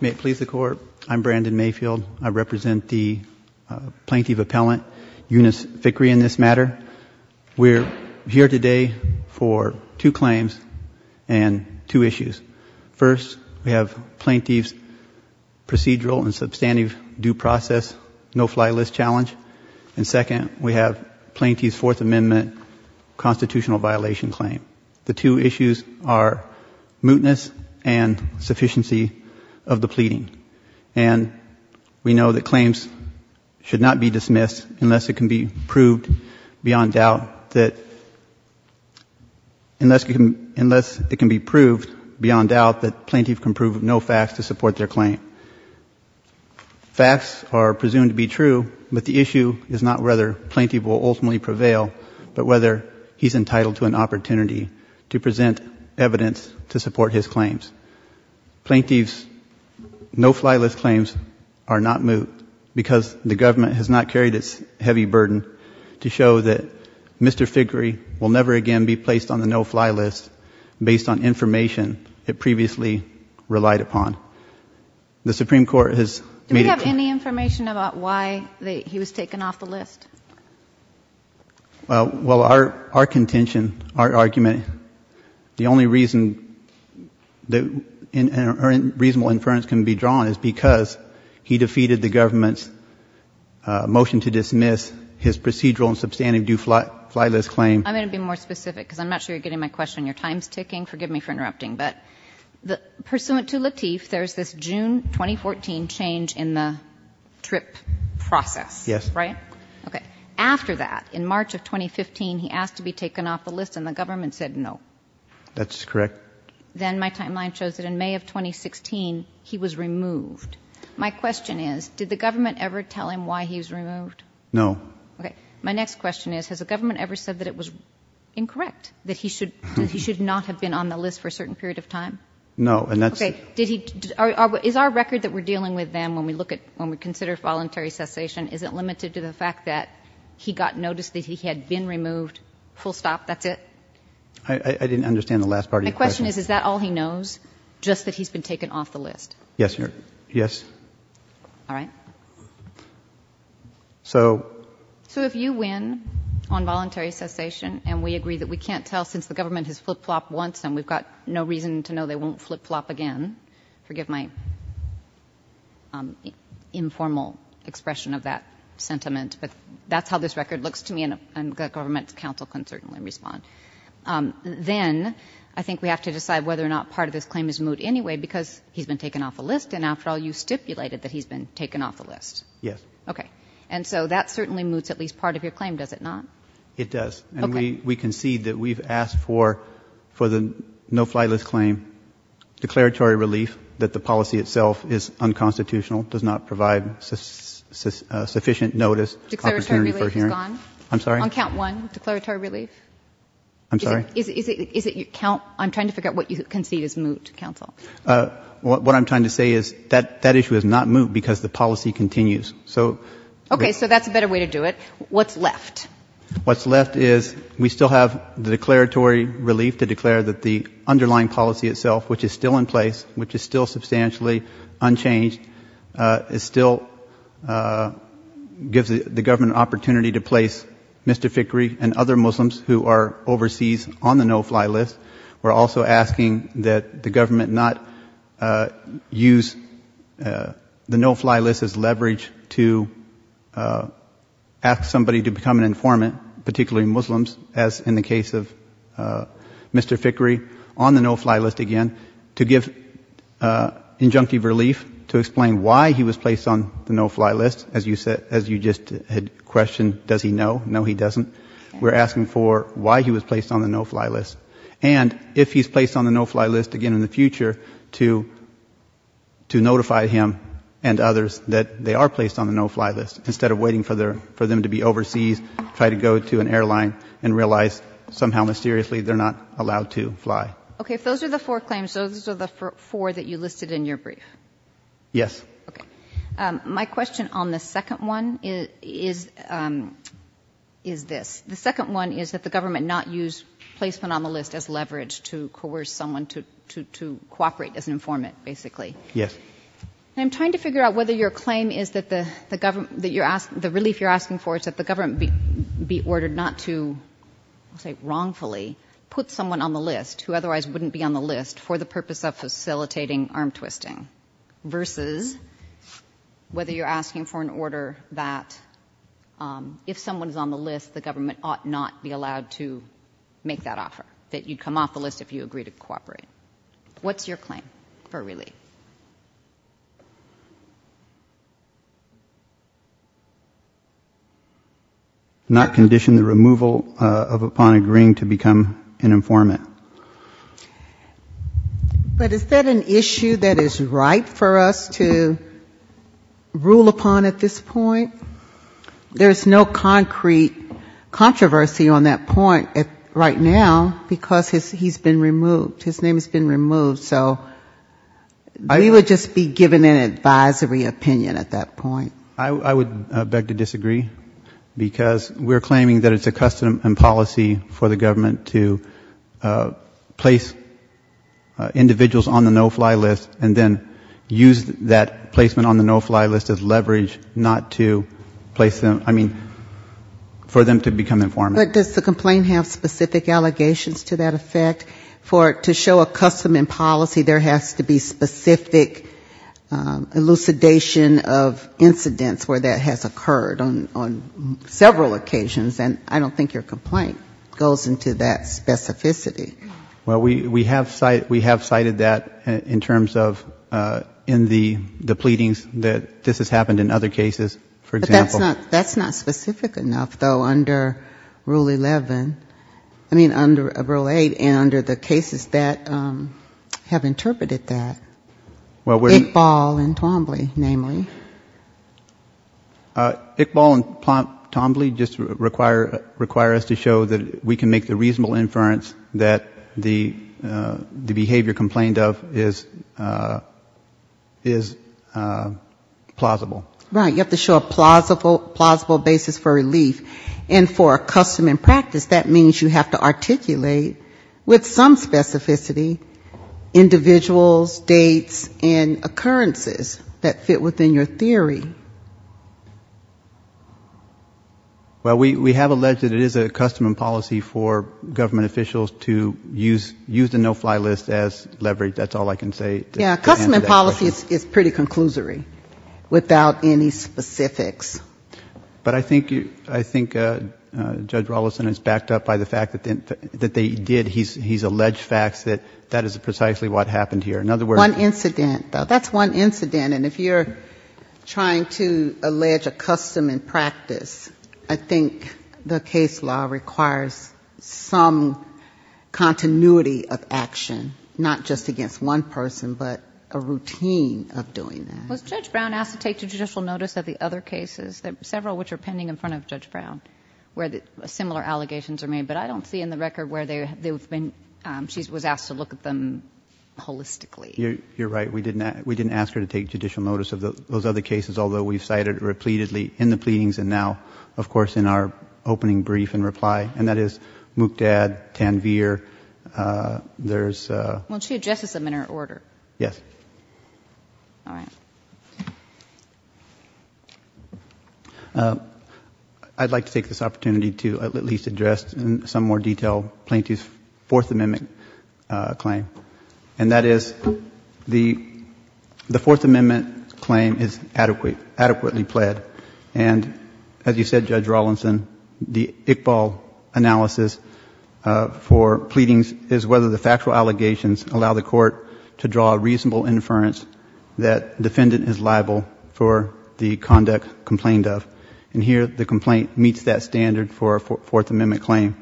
May it please the Court, I'm Brandon Mayfield. I represent the Plaintiff Appellant, Yonas Fikre, in this matter. We're here today for two claims and two issues. First, we have Plaintiff's procedural and substantive due process no-fly list challenge. And second, we have mootness and sufficiency of the pleading. And we know that claims should not be dismissed unless it can be proved beyond doubt that Plaintiff can prove no facts to support their claim. Facts are presumed to be true, but the issue is not whether Plaintiff will ultimately prevail, but whether he's entitled to an opportunity to present evidence to support his claims. Plaintiff's no-fly list claims are not moot because the government has not carried its heavy burden to show that Mr. Fikre will never again be placed on the no-fly list based on information it previously relied upon. The Supreme Court has made it clear. Do we have any information about why he was taken off the list? Well, our contention, our argument, the only reason that a reasonable inference can be drawn is because he defeated the government's motion to dismiss his procedural and substantive due-fly list claim. I'm going to be more specific because I'm not sure you're getting my question. Your time is ticking. Forgive me for interrupting, but pursuant to Latif, there's this June 2014 change in the TRIP process, right? Yes. Okay. After that, in March of 2015, he asked to be taken off the list and the government said no. That's correct. Then my timeline shows that in May of 2016, he was removed. My question is, did the government ever tell him why he was removed? No. Okay. My next question is, has the government ever said that it was incorrect, that he should not have been on the list for a certain period of time? No. Okay. Is our record that we're dealing with them when we consider voluntary cessation, is it limited to the fact that he got notice that he had been removed, full stop, that's it? I didn't understand the last part of your question. My question is, is that all he knows, just that he's been taken off the list? Yes, Your Honor. Yes. All right. So if you win on voluntary cessation and we agree that we can't tell since the government has flip-flopped once and we've got no reason to know they won't flip-flop again, forgive my informal expression of that sentiment, but that's how this record looks to me and the government's counsel can certainly respond, then I think we have to decide whether or not part of this claim is moot anyway because he's been taken off the list and after all you stipulated that he's been taken off the list. Yes. Okay. And so that certainly moots at least part of your claim, does it not? It does. Okay. And we concede that we've asked for the no-fly list claim, declaratory relief that the policy itself is unconstitutional, does not provide sufficient notice, opportunity for hearing. Declaratory relief is gone? I'm sorry? On count one, declaratory relief? I'm sorry? Is it your count? I'm trying to figure out what you concede is moot, counsel. What I'm trying to say is that issue is not moot because the policy continues. Okay. So that's a better way to do it. What's left? What's left is we still have the declaratory relief to declare that the underlying policy itself, which is still in place, which is still substantially unchanged, still gives the government an opportunity to place Mr. Fickrey and other Muslims who are overseas on the no-fly list. We're also asking that the government not use the no-fly list as leverage to ask somebody to become an informant, particularly Muslims, as in the case of Mr. Fickrey, on the no-fly list again, to give injunctive relief to explain why he was placed on the no-fly list. As you just had questioned, does he know? No, he doesn't. We're asking for why he was placed on the no-fly list and if he's placed on the no-fly list again in the future to notify him and others that they are placed on the no-fly list instead of waiting for them to be overseas, try to go to an airline and realize somehow mysteriously they're not allowed to fly. Okay. If those are the four claims, those are the four that you listed in your brief? Yes. Okay. My question on the second one is this. The second one is that the government not use placement on the list as leverage to coerce someone to cooperate as an informant, basically. Yes. And I'm trying to figure out whether your claim is that the relief you're asking for is that the government be ordered not to, I'll say wrongfully, put someone on the list who otherwise wouldn't be on the list for the purpose of facilitating arm twisting versus whether you're asking for an order that if someone is on the list, the government ought not be allowed to make that offer, that you'd come off the list if you agreed to cooperate. What's your claim for relief? Not condition the removal upon agreeing to become an informant. But is that an issue that is right for us to rule upon at this point? There's no concrete controversy on that point right now, because he's been removed. His name has been removed. So we would just be given an advisory opinion at that point. I would beg to disagree, because we're claiming that it's a custom and policy for the government to place individuals on the no-fly list and then use that placement on the no-fly list as leverage not to place them, I mean, for them to become informants. But does the complaint have specific allegations to that effect? For it to show a custom and policy, there has to be specific elucidation of incidents where that has occurred on several occasions. And I don't think your complaint goes into that specificity. Well, we have cited that in terms of in the pleadings that this has happened in other cases, for example. But that's not specific enough, though, under Rule 11. I mean, under Rule 8 and under the cases that have interpreted that. Iqbal and Twombly, namely. Iqbal and Twombly just require us to show that we can make the reasonable inference that the behavior complained of is plausible. Right, you have to show a plausible basis for relief. And for a custom and practice, that means you have to articulate with some specificity individuals, dates, and occurrences that fit within your theory. Well, we have alleged that it is a custom and policy for government officials to use the no-fly list as leverage. That's all I can say to answer that question. Yeah, custom and policy is pretty conclusory, without any specifics. But I think Judge Rollison is backed up by the fact that they did, he's alleged facts that that is precisely what happened here. In other words... One incident, though. That's one incident. And if you're trying to allege a custom and practice, I think the case law requires some continuity of action, not just against one person, but a routine of doing that. Was Judge Brown asked to take judicial notice of the other cases, several of which are pending in front of Judge Brown, where similar allegations are made? But I don't see in the record where she was asked to look at them holistically. You're right. We didn't ask her to take judicial notice of those other cases, although we've cited it repeatedly in the pleadings and now, of course, in our opening brief and reply. And that is Mukdad, Tanvir. There's... Well, she addresses them in her order. Yes. All right. I'd like to take this opportunity to at least address in some more detail Plaintiff's Fourth Amendment claim. And that is the Fourth Amendment claim is adequately pled. And as you said, Judge Rawlinson, the Iqbal analysis for pleadings is whether the factual allegations allow the court to draw a reasonable inference that defendant is liable for the conduct complained of. And here the complaint meets that standard for a Fourth Amendment claim.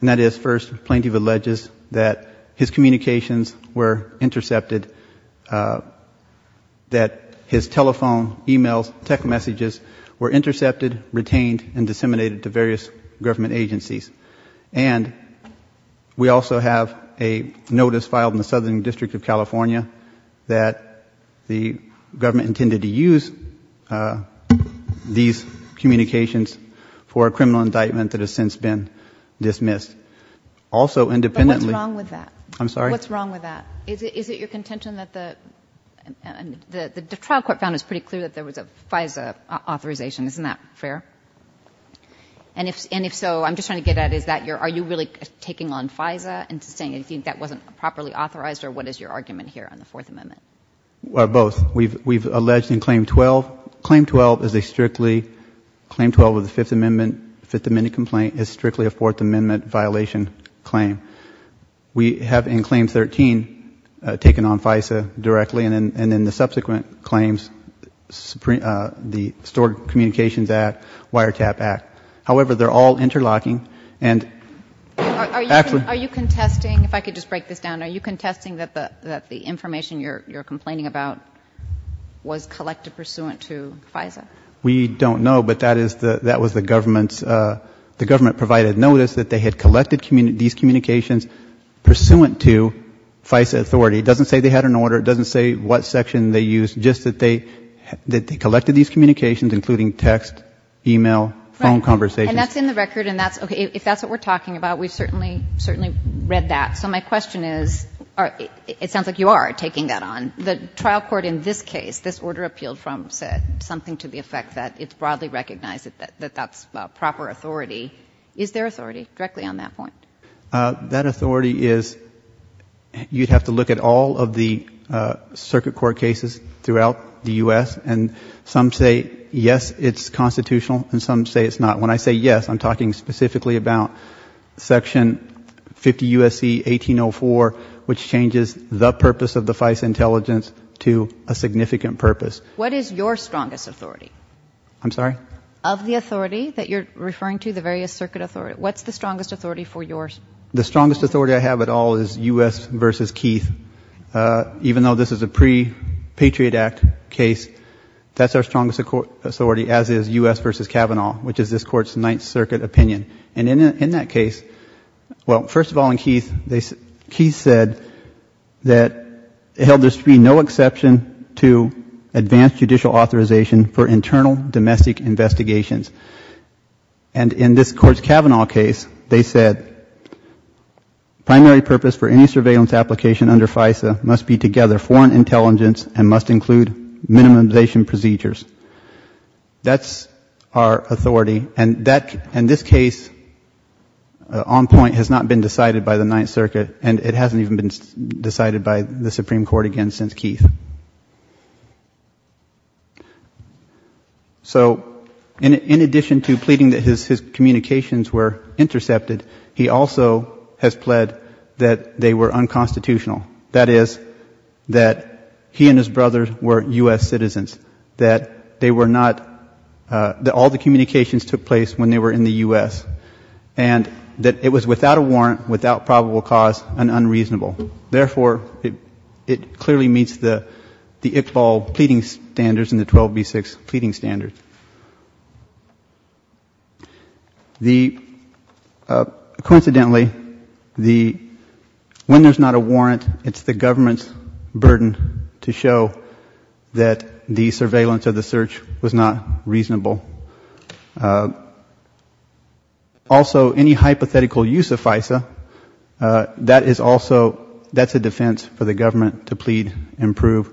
And that is, first, Plaintiff alleges that his communications were intercepted, that his telephone, e-mails, tech messages were intercepted, retained and disseminated to various government agencies. And we also have a notice filed in the Southern District of California that the government intended to use these communications for a criminal indictment that has since been dismissed. Also, independently... But what's wrong with that? I'm sorry? What's wrong with that? Is it your contention that the... The trial court found it was pretty clear that there was a FISA authorization. Isn't that fair? And if so, I'm just trying to get at is that your... Are you really taking on FISA and saying anything that wasn't properly authorized? Or what is your argument here on the Fourth Amendment? Both. We've alleged in Claim 12, Claim 12 is a strictly, Claim 12 of the Fifth Amendment, Fifth Amendment complaint is strictly a Fourth Amendment violation claim. We have in Claim 13 taken on FISA directly and then the subsequent claims, the Stored Communications Act, Wiretap Act. However, they're all interlocking and actually... So the communications that you're complaining about was collected pursuant to FISA? We don't know, but that was the government's... The government provided notice that they had collected these communications pursuant to FISA authority. It doesn't say they had an order. It doesn't say what section they used. Just that they collected these communications, including text, e-mail, phone conversations. Right. And that's in the record and that's... Okay. If that's what we're talking about, we've certainly read that. So my question is... It sounds like you are taking that on. The trial court in this case, this order appealed from something to the effect that it's broadly recognized that that's proper authority. Is there authority directly on that point? That authority is... You'd have to look at all of the circuit court cases throughout the U.S. and some say, yes, it's constitutional and some say it's not. When I say yes, I'm talking specifically about Section 50 U.S.C. 1804, which changes the purpose of the FISA intelligence to a significant purpose. What is your strongest authority? I'm sorry? Of the authority that you're referring to, the various circuit authority, what's the strongest authority for yours? The strongest authority I have at all is U.S. v. Keith. Even though this is a pre-Patriot Act case, that's our strongest authority, as is U.S. v. Kavanaugh, which is this Court's Ninth Circuit opinion. And in that case, well, first of all, in Keith, Keith said that it held there should be no exception to advanced judicial authorization for internal domestic investigations. And in this Court's Kavanaugh case, they said primary purpose for any surveillance application under FISA must be to gather foreign intelligence and must include minimization procedures. That's our authority. And this case on point has not been decided by the Ninth Circuit, and it hasn't even been decided by the Supreme Court again since Keith. So in addition to pleading that his communications were intercepted, he also has pled that they were unconstitutional. That is, that he and his brothers were U.S. citizens, that they were not, that all the communications took place when they were in the U.S., and that it was without a warrant, without probable cause, and unreasonable. Therefore, it clearly meets the Iqbal pleading standards and the 12B6 pleading standards. The, coincidentally, the, when there's not a warrant, it's the government's burden to show that the surveillance of the search was not reasonable. Also, any hypothetical use of FISA, that is also, that's a defense for the government to plead and prove,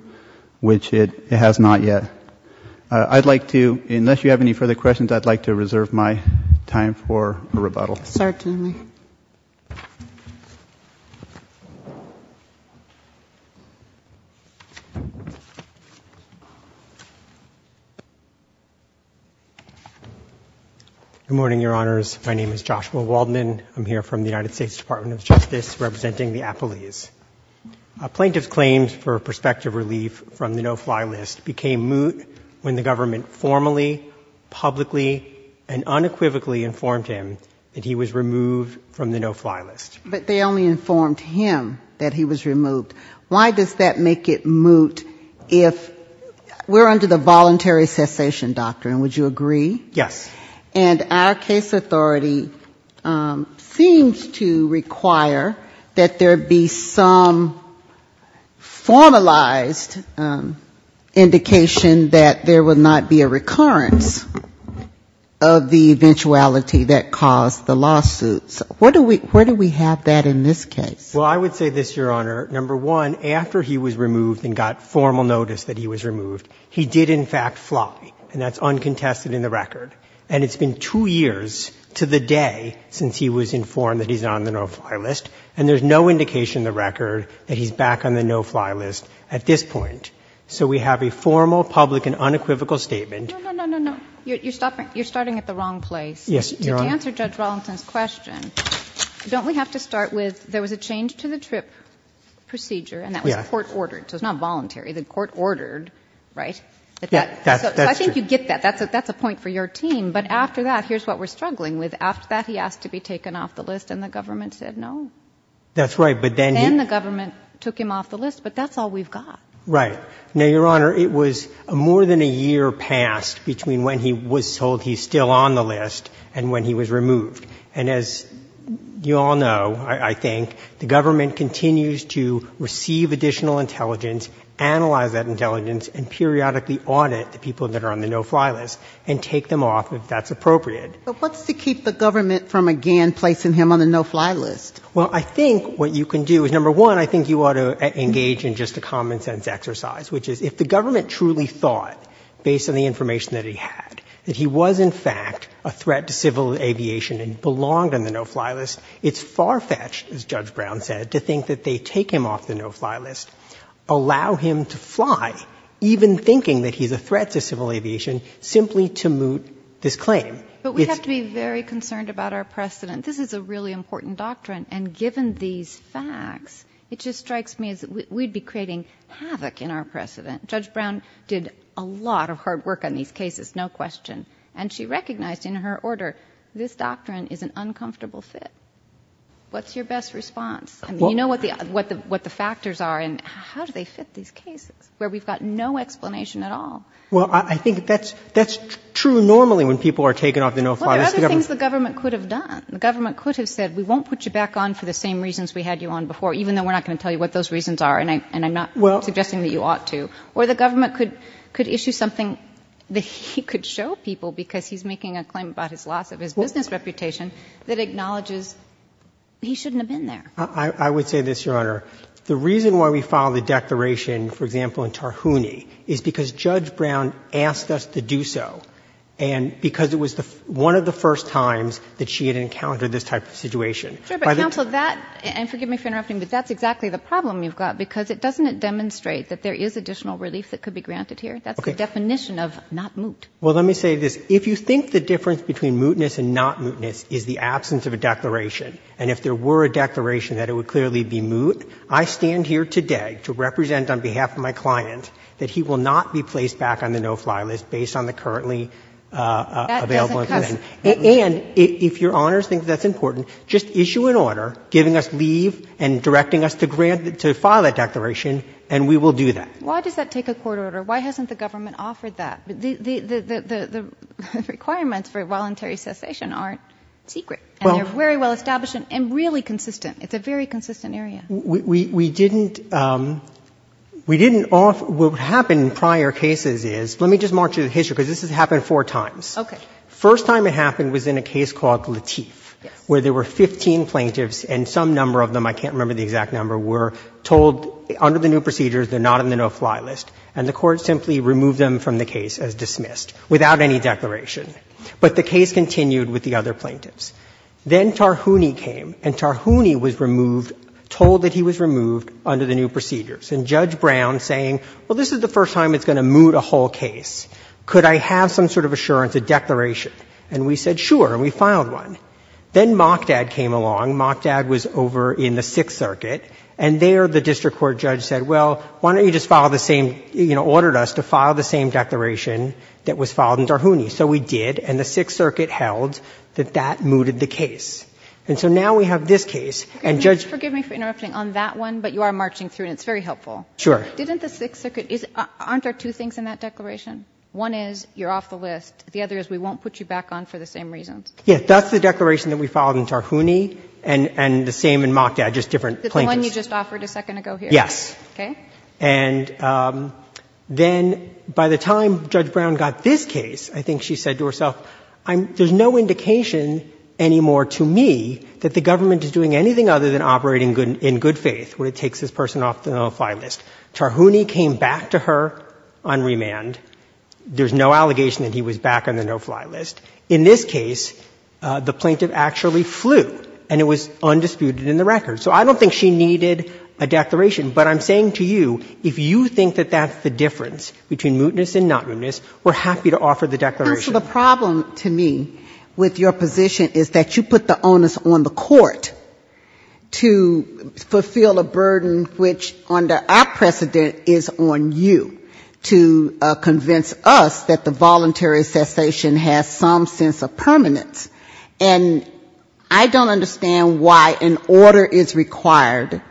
which it has not yet. I'd like to, unless you have any further questions, I'd like to reserve my time for a rebuttal. Certainly. Good morning, Your Honors. My name is Joshua Waldman. I'm here from the United States Department of Justice representing the U.S. Department of Justice, and I'm here to ask a question. Why does it make it moot when the government formally, publicly, and unequivocally informed him that he was removed from the no-fly list? But they only informed him that he was removed. Why does that make it moot if we're under the voluntary cessation doctrine, would you agree? Yes. And our case authority seems to require that there be some formalized indication that there would not be a recurrence of the eventuality that caused the lawsuits. Where do we have that in this case? Well, I would say this, Your Honor. Number one, after he was removed and got formal notice that he was removed, he did, in fact, fly, and that's uncontested in the record. And it's been two years to the day since he was informed that he's on the no-fly list, and there's no indication in the record that he's back on the no-fly list at this point. So we have a formal, public, and unequivocal statement. No, no, no, no, no. You're starting at the wrong place. Yes, Your Honor. To answer Judge Rollington's question, don't we have to start with there was a change to the TRIP procedure, and that was court-ordered, so it's not voluntary. The court ordered, right? So I think you get that. That's a point for your team. But after that, here's what we're struggling with. After that, he asked to be taken off the list, and the government said no. That's right, but then he — he was removed. And as you all know, I think, the government continues to receive additional intelligence, analyze that intelligence, and periodically audit the people that are on the no-fly list and take them off if that's appropriate. But what's to keep the government from again placing him on the no-fly list? Well, I think what you can do is, number one, I think you ought to engage in just a common-sense exercise, which is if the government truly thought, based on the information that he had, that he was, in fact, a threat to civil aviation and belonged on the no-fly list, it's far-fetched, as Judge Brown said, to think that they take him off the no-fly list, allow him to fly, even thinking that he's a threat to civil aviation, simply to moot this claim. But we have to be very concerned about our precedent. This is a really important doctrine, and given these facts, it just strikes me as we'd be creating havoc in our precedent. Judge Brown did a lot of hard work on these cases, no question, and she recognized in her order this doctrine is an uncomfortable fit. What's your best response? I mean, you know what the factors are, and how do they fit these cases, where we've got no explanation at all. Well, I think that's true normally when people are taken off the no-fly list. Well, there are other things the government could have done. The government could have said, we won't put you back on for the same reasons we had you on before, even though we're not going to tell you what those reasons are, and I'm not suggesting that you ought to. Or the government could issue something that he could show people, because he's making a claim about his loss of his business reputation, that acknowledges he shouldn't have been there. I would say this, Your Honor. The reason why we filed the declaration, for example, in Tarhouni is because Judge Brown asked us to do so, and because it was one of the first times that she had encountered this type of situation. Sure, but counsel, that, and forgive me for interrupting, but that's exactly the problem you've got, because doesn't it demonstrate that there is additional relief that could be granted here? That's the definition of not moot. Well, let me say this. If you think the difference between mootness and not mootness is the absence of a declaration, and if there were a declaration, that it would clearly be moot, I stand here today to represent on behalf of my client that he will not be placed back on the no-fly list based on the currently available information. And if Your Honor thinks that's important, just issue an order giving us leave and directing us to file that declaration, and we will do that. Why does that take a court order? Why hasn't the government offered that? The requirements for voluntary cessation aren't secret. And they're very well established and really consistent. It's a very consistent area. We didn't, we didn't offer. What happened in prior cases is, let me just march through the history, because this has happened four times. Okay. First time it happened was in a case called Lateef, where there were 15 plaintiffs and some number of them, I can't remember the exact number, were told under the new procedures they're not on the no-fly list, and the court simply removed them from the case as dismissed, without any declaration. But the case continued with the other plaintiffs. Then Tarhouni came, and Tarhouni was removed, told that he was removed under the new procedures. And Judge Brown saying, well, this is the first time it's going to moot a whole case. Could I have some sort of assurance, a declaration? And we said, sure, and we filed one. Then Mockdad came along. Mockdad was over in the Sixth Circuit. And there the district court judge said, well, why don't you just file the same, you know, ordered us to file the same declaration that was filed in Tarhouni. So we did, and the Sixth Circuit held that that mooted the case. And so now we have this case, and Judge ---- Kagan. Could you just forgive me for interrupting on that one? But you are marching through, and it's very helpful. Sure. Didn't the Sixth Circuit ---- aren't there two things in that declaration? One is you're off the list. The other is we won't put you back on for the same reasons. Yes. That's the declaration that we filed in Tarhouni, and the same in Mockdad, just different plaintiffs. The one you just offered a second ago here? Yes. Okay. And then by the time Judge Brown got this case, I think she said to herself, there's no indication anymore to me that the government is doing anything other than operating in good faith when it takes this person off the no-fly list. Tarhouni came back to her on remand. There's no allegation that he was back on the no-fly list. In this case, the plaintiff actually flew, and it was undisputed in the record. So I don't think she needed a declaration, but I'm saying to you, if you think that that's the difference between mootness and not mootness, we're happy to offer the declaration. The problem to me with your position is that you put the onus on the court to fulfill a burden which under our precedent is on you to convince us that the voluntary cessation has some sense of permanence. And I don't understand why an order is required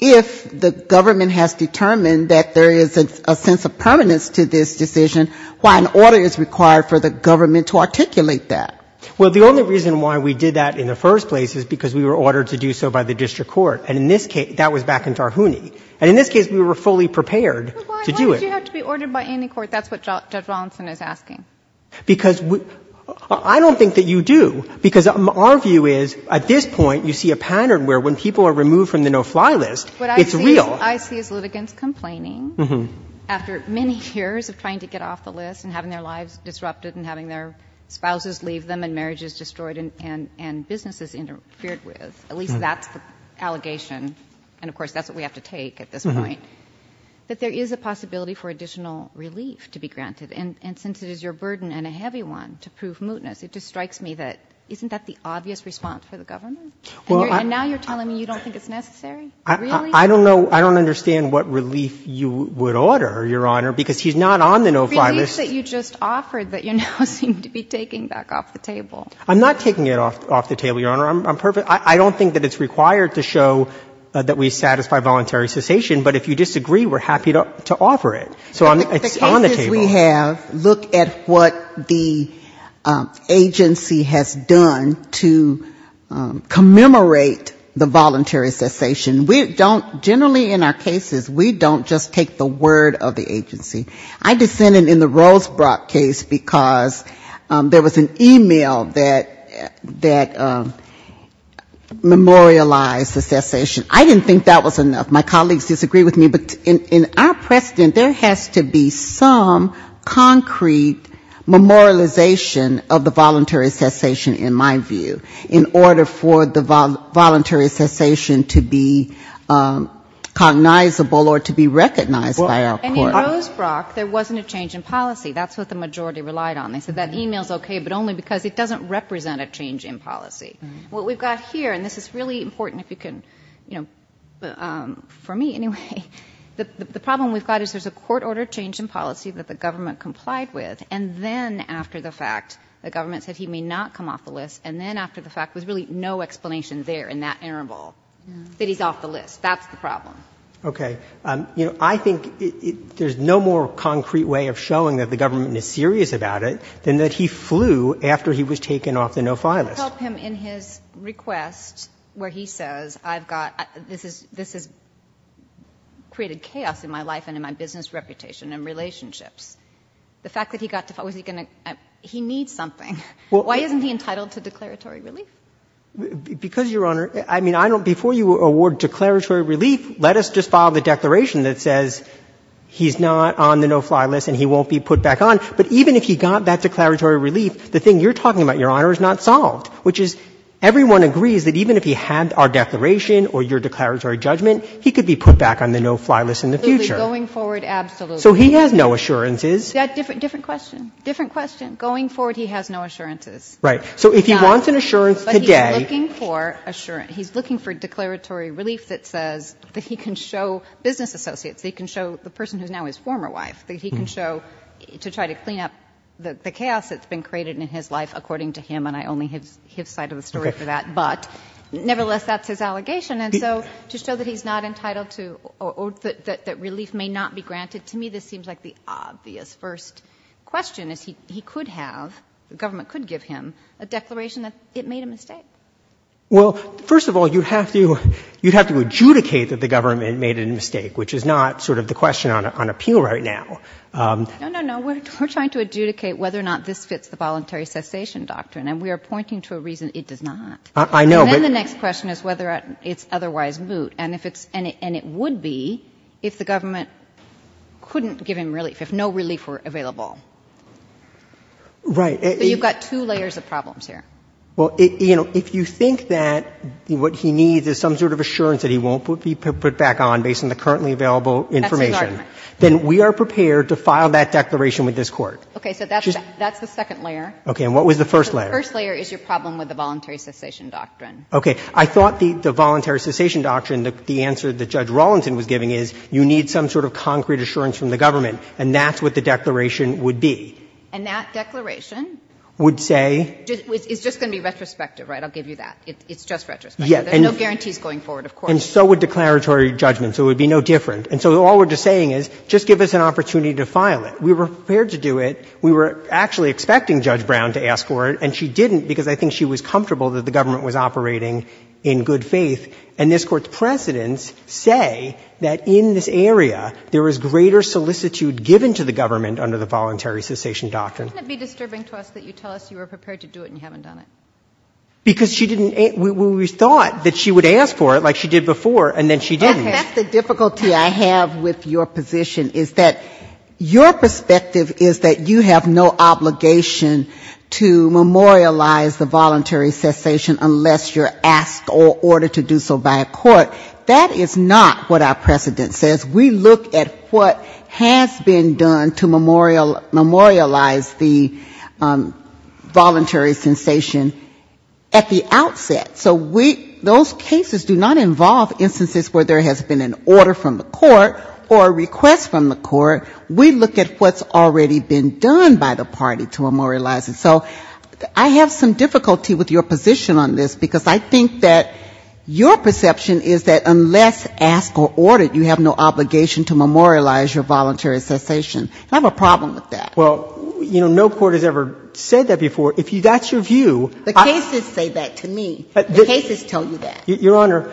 if the government has determined that there is a sense of permanence to this decision, why an order is required for the government to articulate that. Well, the only reason why we did that in the first place is because we were ordered to do so by the district court. And in this case, that was back in Tarhouni. And in this case, we were fully prepared to do it. But you have to be ordered by any court. That's what Judge Rawlinson is asking. Because I don't think that you do. Because our view is at this point you see a pattern where when people are removed from the no-fly list, it's real. What I see is litigants complaining after many years of trying to get off the list and having their lives disrupted and having their spouses leave them and marriages destroyed and businesses interfered with, at least that's the allegation, and of course that's what we have to take at this point. But there is a possibility for additional relief to be granted. And since it is your burden and a heavy one to prove mootness, it just strikes me that isn't that the obvious response for the government? And now you're telling me you don't think it's necessary? Really? I don't know. I don't understand what relief you would order, Your Honor, because he's not on the no-fly list. Relief that you just offered that you now seem to be taking back off the table. I'm not taking it off the table, Your Honor. I'm perfect. I don't think that it's required to show that we satisfy voluntary cessation. But if you disagree, we're happy to offer it. So it's on the table. The cases we have look at what the agency has done to commemorate the voluntary cessation. We don't, generally in our cases, we don't just take the word of the agency. I dissented in the Rosebrock case because there was an e-mail that memorialized the cessation. I didn't think that was enough. My colleagues disagree with me. But in our precedent, there has to be some concrete memorialization of the voluntary cessation, in my view, in order for the voluntary cessation to be cognizable or to be recognized by our court. And in Rosebrock, there wasn't a change in policy. That's what the majority relied on. They said that e-mail is okay, but only because it doesn't represent a change in policy. What we've got here, and this is really important if you can, you know, for me anyway, the problem we've got is there's a court-ordered change in policy that the government complied with, and then after the fact, the government said he may not come off the list, and then after the fact, there's really no explanation there in that interval that he's off the list. That's the problem. Okay. You know, I think there's no more concrete way of showing that the government is serious about it than that he flew after he was taken off the no-file list. But I can't help him in his request where he says I've got — this has created chaos in my life and in my business reputation and relationships. The fact that he got to — was he going to — he needs something. Why isn't he entitled to declaratory relief? Because, Your Honor, I mean, I don't — before you award declaratory relief, let us just file the declaration that says he's not on the no-fly list and he won't be put back on. But even if he got that declaratory relief, the thing you're talking about, Your Honor, which is everyone agrees that even if he had our declaration or your declaratory judgment, he could be put back on the no-fly list in the future. Absolutely. Going forward, absolutely. So he has no assurances. Different question. Different question. Going forward, he has no assurances. Right. So if he wants an assurance today — But he's looking for assurance. He's looking for declaratory relief that says that he can show business associates, that he can show the person who's now his former wife, that he can show — to try to clean up the chaos that's been created in his life, according to him, and I only have his side of the story for that. Okay. But nevertheless, that's his allegation. And so to show that he's not entitled to — or that relief may not be granted, to me this seems like the obvious first question, is he could have — the government could give him a declaration that it made a mistake. Well, first of all, you'd have to adjudicate that the government made a mistake, which is not sort of the question on appeal right now. No, no, no. We're trying to adjudicate whether or not this fits the voluntary cessation doctrine, and we are pointing to a reason it does not. I know, but — And then the next question is whether it's otherwise moot, and if it's — and it would be if the government couldn't give him relief, if no relief were available. Right. But you've got two layers of problems here. Well, you know, if you think that what he needs is some sort of assurance that he won't be put back on based on the currently available information — That's his argument. — then we are prepared to file that declaration with this Court. Okay. So that's the second layer. Okay. And what was the first layer? The first layer is your problem with the voluntary cessation doctrine. Okay. I thought the voluntary cessation doctrine, the answer that Judge Rawlenton was giving, is you need some sort of concrete assurance from the government, and that's what the declaration would be. And that declaration would say — It's just going to be retrospective, right? I'll give you that. It's just retrospective. Yes. There's no guarantees going forward, of course. And so would declaratory judgment. So it would be no different. And so all we're just saying is just give us an opportunity to file it. We were prepared to do it. We were actually expecting Judge Brown to ask for it, and she didn't because I think she was comfortable that the government was operating in good faith. And this Court's precedents say that in this area there was greater solicitude given to the government under the voluntary cessation doctrine. Wouldn't it be disturbing to us that you tell us you were prepared to do it and you haven't done it? Because she didn't — we thought that she would ask for it, like she did before, and then she didn't. Okay. That's the difficulty I have with your position, is that your perspective is that you have no obligation to memorialize the voluntary cessation unless you're asked or ordered to do so by a court. That is not what our precedent says. We look at what has been done to memorialize the voluntary cessation at the outset. So those cases do not involve instances where there has been an order from the government that has already been done by the party to memorialize it. So I have some difficulty with your position on this because I think that your perception is that unless asked or ordered, you have no obligation to memorialize your voluntary cessation. I have a problem with that. Well, you know, no court has ever said that before. If that's your view — The cases say that to me. The cases tell you that. Your Honor,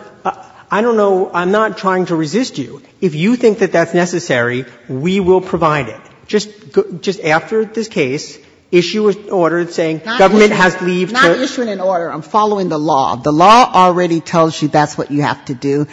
I don't know — I'm not trying to resist you. If you think that that's necessary, we will provide it. Just after this case, issue an order saying government has — Not issuing an order. I'm following the law. The law already tells you that's what you have to do.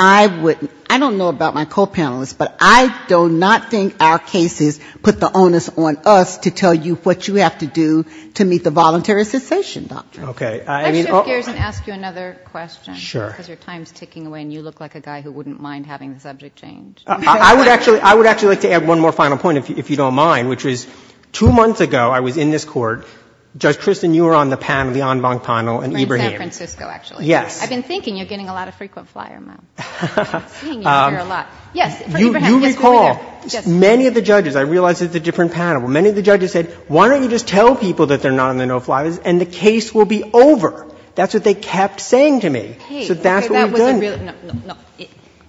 I wouldn't — I don't know about my co-panelists, but I do not think our cases put the onus on us to tell you what you have to do to meet the voluntary cessation doctrine. Okay. Let's shift gears and ask you another question. Sure. Because your time is ticking away and you look like a guy who wouldn't mind having the subject changed. I would actually — I would actually like to add one more final point, if you don't mind, which is two months ago, I was in this Court. Judge Christin, you were on the panel, the en banc panel in Ibrahim. We're in San Francisco, actually. Yes. I've been thinking you're getting a lot of frequent flyer mail. I'm seeing you here a lot. Yes, from Ibrahim. Yes, we were there. You recall many of the judges — I realize it's a different panel — many of the judges said, why don't you just tell people that they're not on the no-flyers That's what they kept saying to me. Okay. So that's what we've done.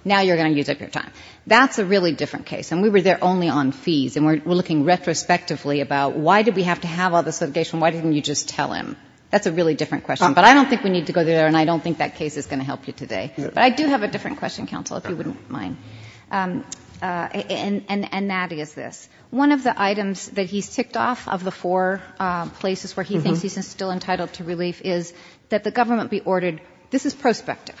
Now you're going to use up your time. That's a really different case. And we were there only on fees. And we're looking retrospectively about, why did we have to have all this litigation? Why didn't you just tell him? That's a really different question. But I don't think we need to go there and I don't think that case is going to help you today. But I do have a different question, counsel, if you wouldn't mind. And that is this. One of the items that he's ticked off of the four places where he thinks he's still entitled to relief is that the government be ordered — this is prospective.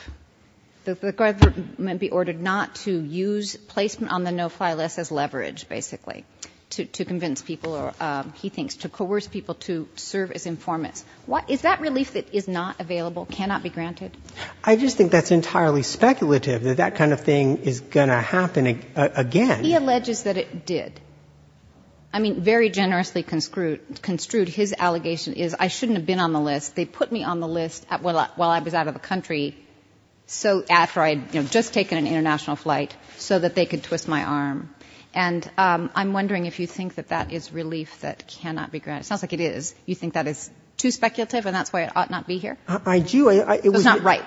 The government be ordered not to use placement on the no-fly list as leverage, basically, to convince people or, he thinks, to coerce people to serve as informants. Is that relief that is not available, cannot be granted? I just think that's entirely speculative, that that kind of thing is going to happen again. He alleges that it did. I mean, very generously construed, his allegation is, I shouldn't have been on the list. They put me on the list while I was out of the country, after I had just taken an international flight, so that they could twist my arm. And I'm wondering if you think that that is relief that cannot be granted. It sounds like it is. You think that is too speculative and that's why it ought not be here? I do. It was not ripe.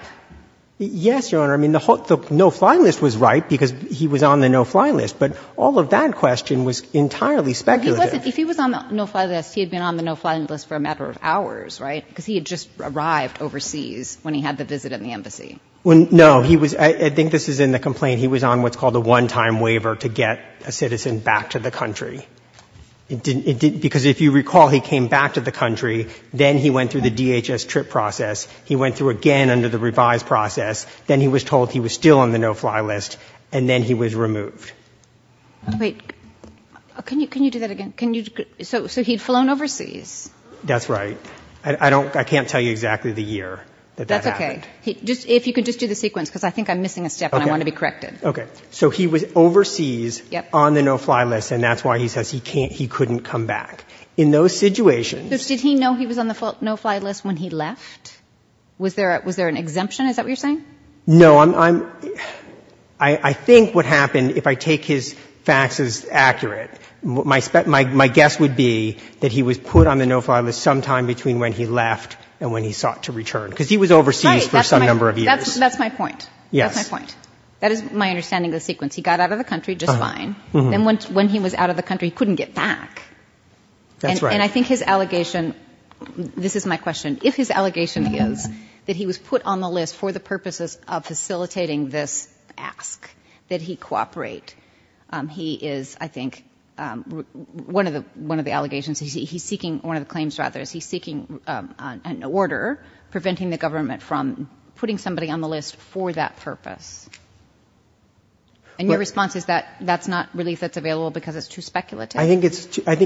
Yes, Your Honor. I mean, the no-fly list was ripe because he was on the no-fly list. But all of that question was entirely speculative. If he was on the no-fly list, he had been on the no-fly list for a matter of hours, right? Because he had just arrived overseas when he had the visit in the embassy. No. I think this is in the complaint. He was on what's called a one-time waiver to get a citizen back to the country. Because if you recall, he came back to the country. Then he went through the DHS trip process. He went through again under the revised process. Then he was told he was still on the no-fly list. And then he was removed. Wait. Can you do that again? So he'd flown overseas? That's right. I can't tell you exactly the year that that happened. That's okay. If you could just do the sequence, because I think I'm missing a step and I want to be corrected. Okay. So he was overseas on the no-fly list, and that's why he says he couldn't come back. In those situations — So did he know he was on the no-fly list when he left? Was there an exemption? Is that what you're saying? No. I think what happened, if I take his facts as accurate, my guess would be that he was put on the no-fly list sometime between when he left and when he sought to return, because he was overseas for some number of years. That's my point. Yes. That's my point. That is my understanding of the sequence. He got out of the country just fine. Then when he was out of the country, he couldn't get back. That's right. And I think his allegation — this is my question. If his allegation is that he was put on the list for the purposes of facilitating this ask, that he cooperate, he is, I think — one of the allegations, he's seeking — one of the claims, rather, is he's seeking an order preventing the government from putting somebody on the list for that purpose. And your response is that that's not relief that's available because it's too speculative? I think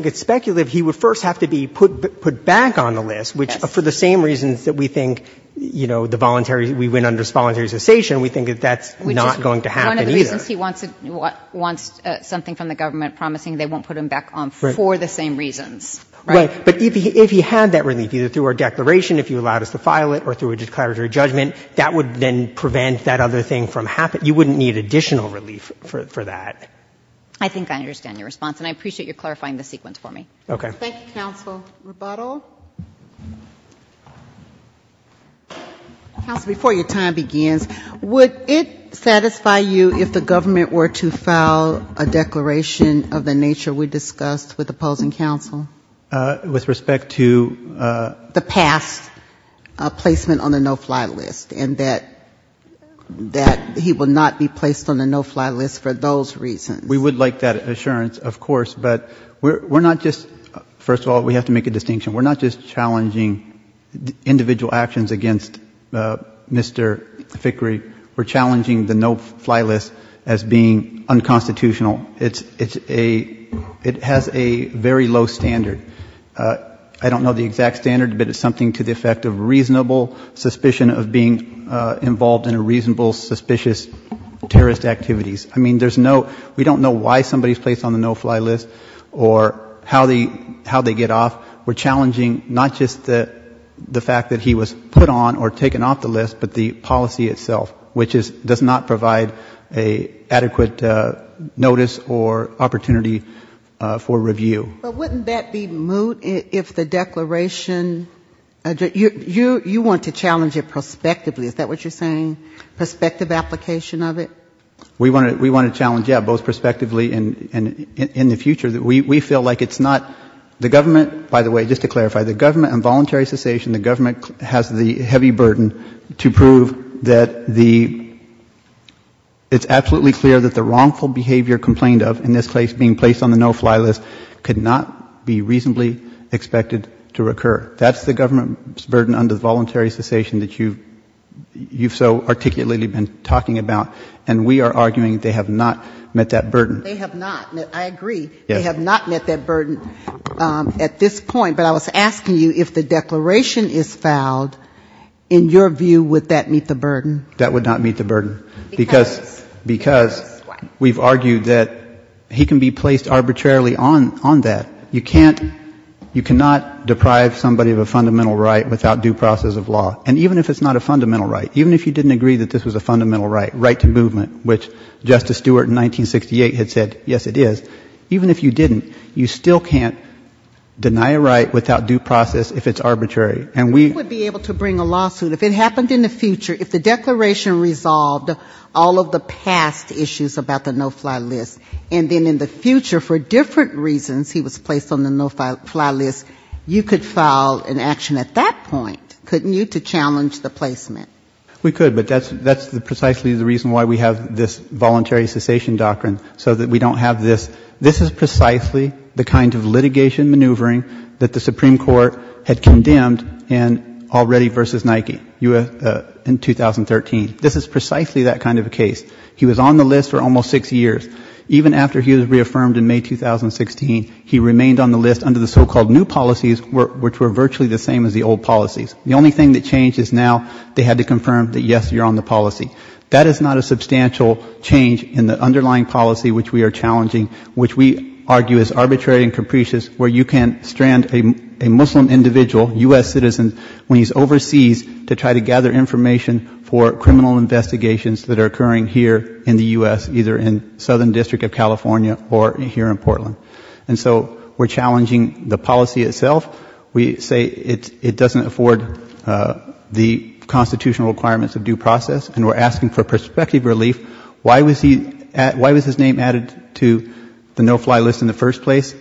it's speculative. He would first have to be put back on the list, which, for the same reasons that we think, you know, the voluntary — we went under voluntary cessation, we think that that's not going to happen either. One of the reasons he wants something from the government promising they won't put him back on for the same reasons, right? Right. But if he had that relief, either through our declaration, if you allowed us to file it, or through a declaratory judgment, that would then prevent that other thing from happening. You wouldn't need additional relief for that. I think I understand your response, and I appreciate your clarifying the sequence for me. Okay. Thank you, counsel. Rebuttal. Counsel, before your time begins, would it satisfy you if the government were to file a declaration of the nature we discussed with opposing counsel? With respect to? The past placement on the no-fly list, and that he will not be placed on the no-fly list for those reasons. We would like that assurance, of course, but we're not just — first of all, we have to make a distinction. We're not just challenging individual actions against Mr. Fickrey. We're challenging the no-fly list as being unconstitutional. It's a — it has a very low standard. I don't know the exact standard, but it's something to the effect of reasonable suspicion of being involved in a reasonable, suspicious terrorist activities. I mean, there's no — we don't know why somebody's placed on the no-fly list or how they get off. We're challenging not just the fact that he was put on or taken off the list, but the policy itself, which does not provide an adequate notice or opportunity for review. But wouldn't that be moot if the declaration — you want to challenge it prospectively. Is that what you're saying? Prospective application of it? We want to challenge, yeah, both prospectively and in the future. We feel like it's not — the government — by the way, just to clarify, the government and voluntary cessation, the government has the heavy burden to prove that the — it's absolutely clear that the wrongful behavior complained of in this case being placed on the no-fly list could not be reasonably expected to occur. That's the government's burden under voluntary cessation that you've so articulately been talking about. And we are arguing they have not met that burden. They have not. I agree. They have not met that burden at this point. But I was asking you if the declaration is fouled, in your view, would that meet the burden? That would not meet the burden. Because? Because we've argued that he can be placed arbitrarily on that. You can't — you cannot deprive somebody of a fundamental right without due process of law. And even if it's not a fundamental right, even if you didn't agree that this was a fundamental right, right to movement, which Justice Stewart in 1968 had said, yes, it is, even if you didn't, you still can't deny a right without due process if it's arbitrary. And we — We would be able to bring a lawsuit. If it happened in the future, if the declaration resolved all of the past issues about the no-fly list, and then in the future for different reasons he was placed on the no-fly list, you could file an action at that point, couldn't you, to challenge the placement? We could, but that's precisely the reason why we have this voluntary cessation doctrine, so that we don't have this. This is precisely the kind of litigation maneuvering that the Supreme Court had condemned already versus Nike in 2013. This is precisely that kind of a case. He was on the list for almost six years. Even after he was reaffirmed in May 2016, he remained on the list under the so-called new policies, which were virtually the same as the old policies. The only thing that changed is now they had to confirm that, yes, you're on the policy. That is not a substantial change in the underlying policy which we are challenging, which we argue is arbitrary and capricious, where you can't strand a Muslim individual, U.S. citizen, when he's overseas, to try to gather information for criminal investigations that are occurring here in the U.S., either in Southern District of California or here in Portland. And so we're challenging the policy itself. We say it doesn't afford the constitutional requirements of due process, and we're asking for prospective relief. Why was his name added to the no-fly list in the first place?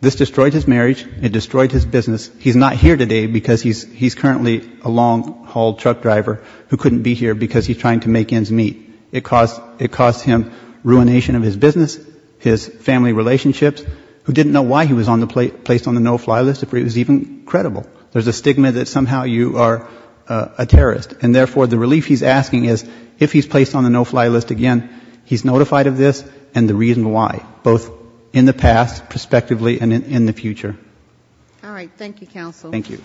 This destroyed his marriage. It destroyed his business. He's not here today because he's currently a long-haul truck driver who couldn't be here because he's trying to make ends meet. It caused him ruination of his business, his family relationships. There's a stigma that somehow you are a terrorist, and therefore the relief he's asking is if he's placed on the no-fly list again, he's notified of this and the reason why, both in the past, prospectively, and in the future. All right. Thank you, counsel. Thank you.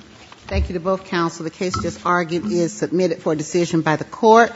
Thank you to both counsel. The case just argued is submitted for decision by the court.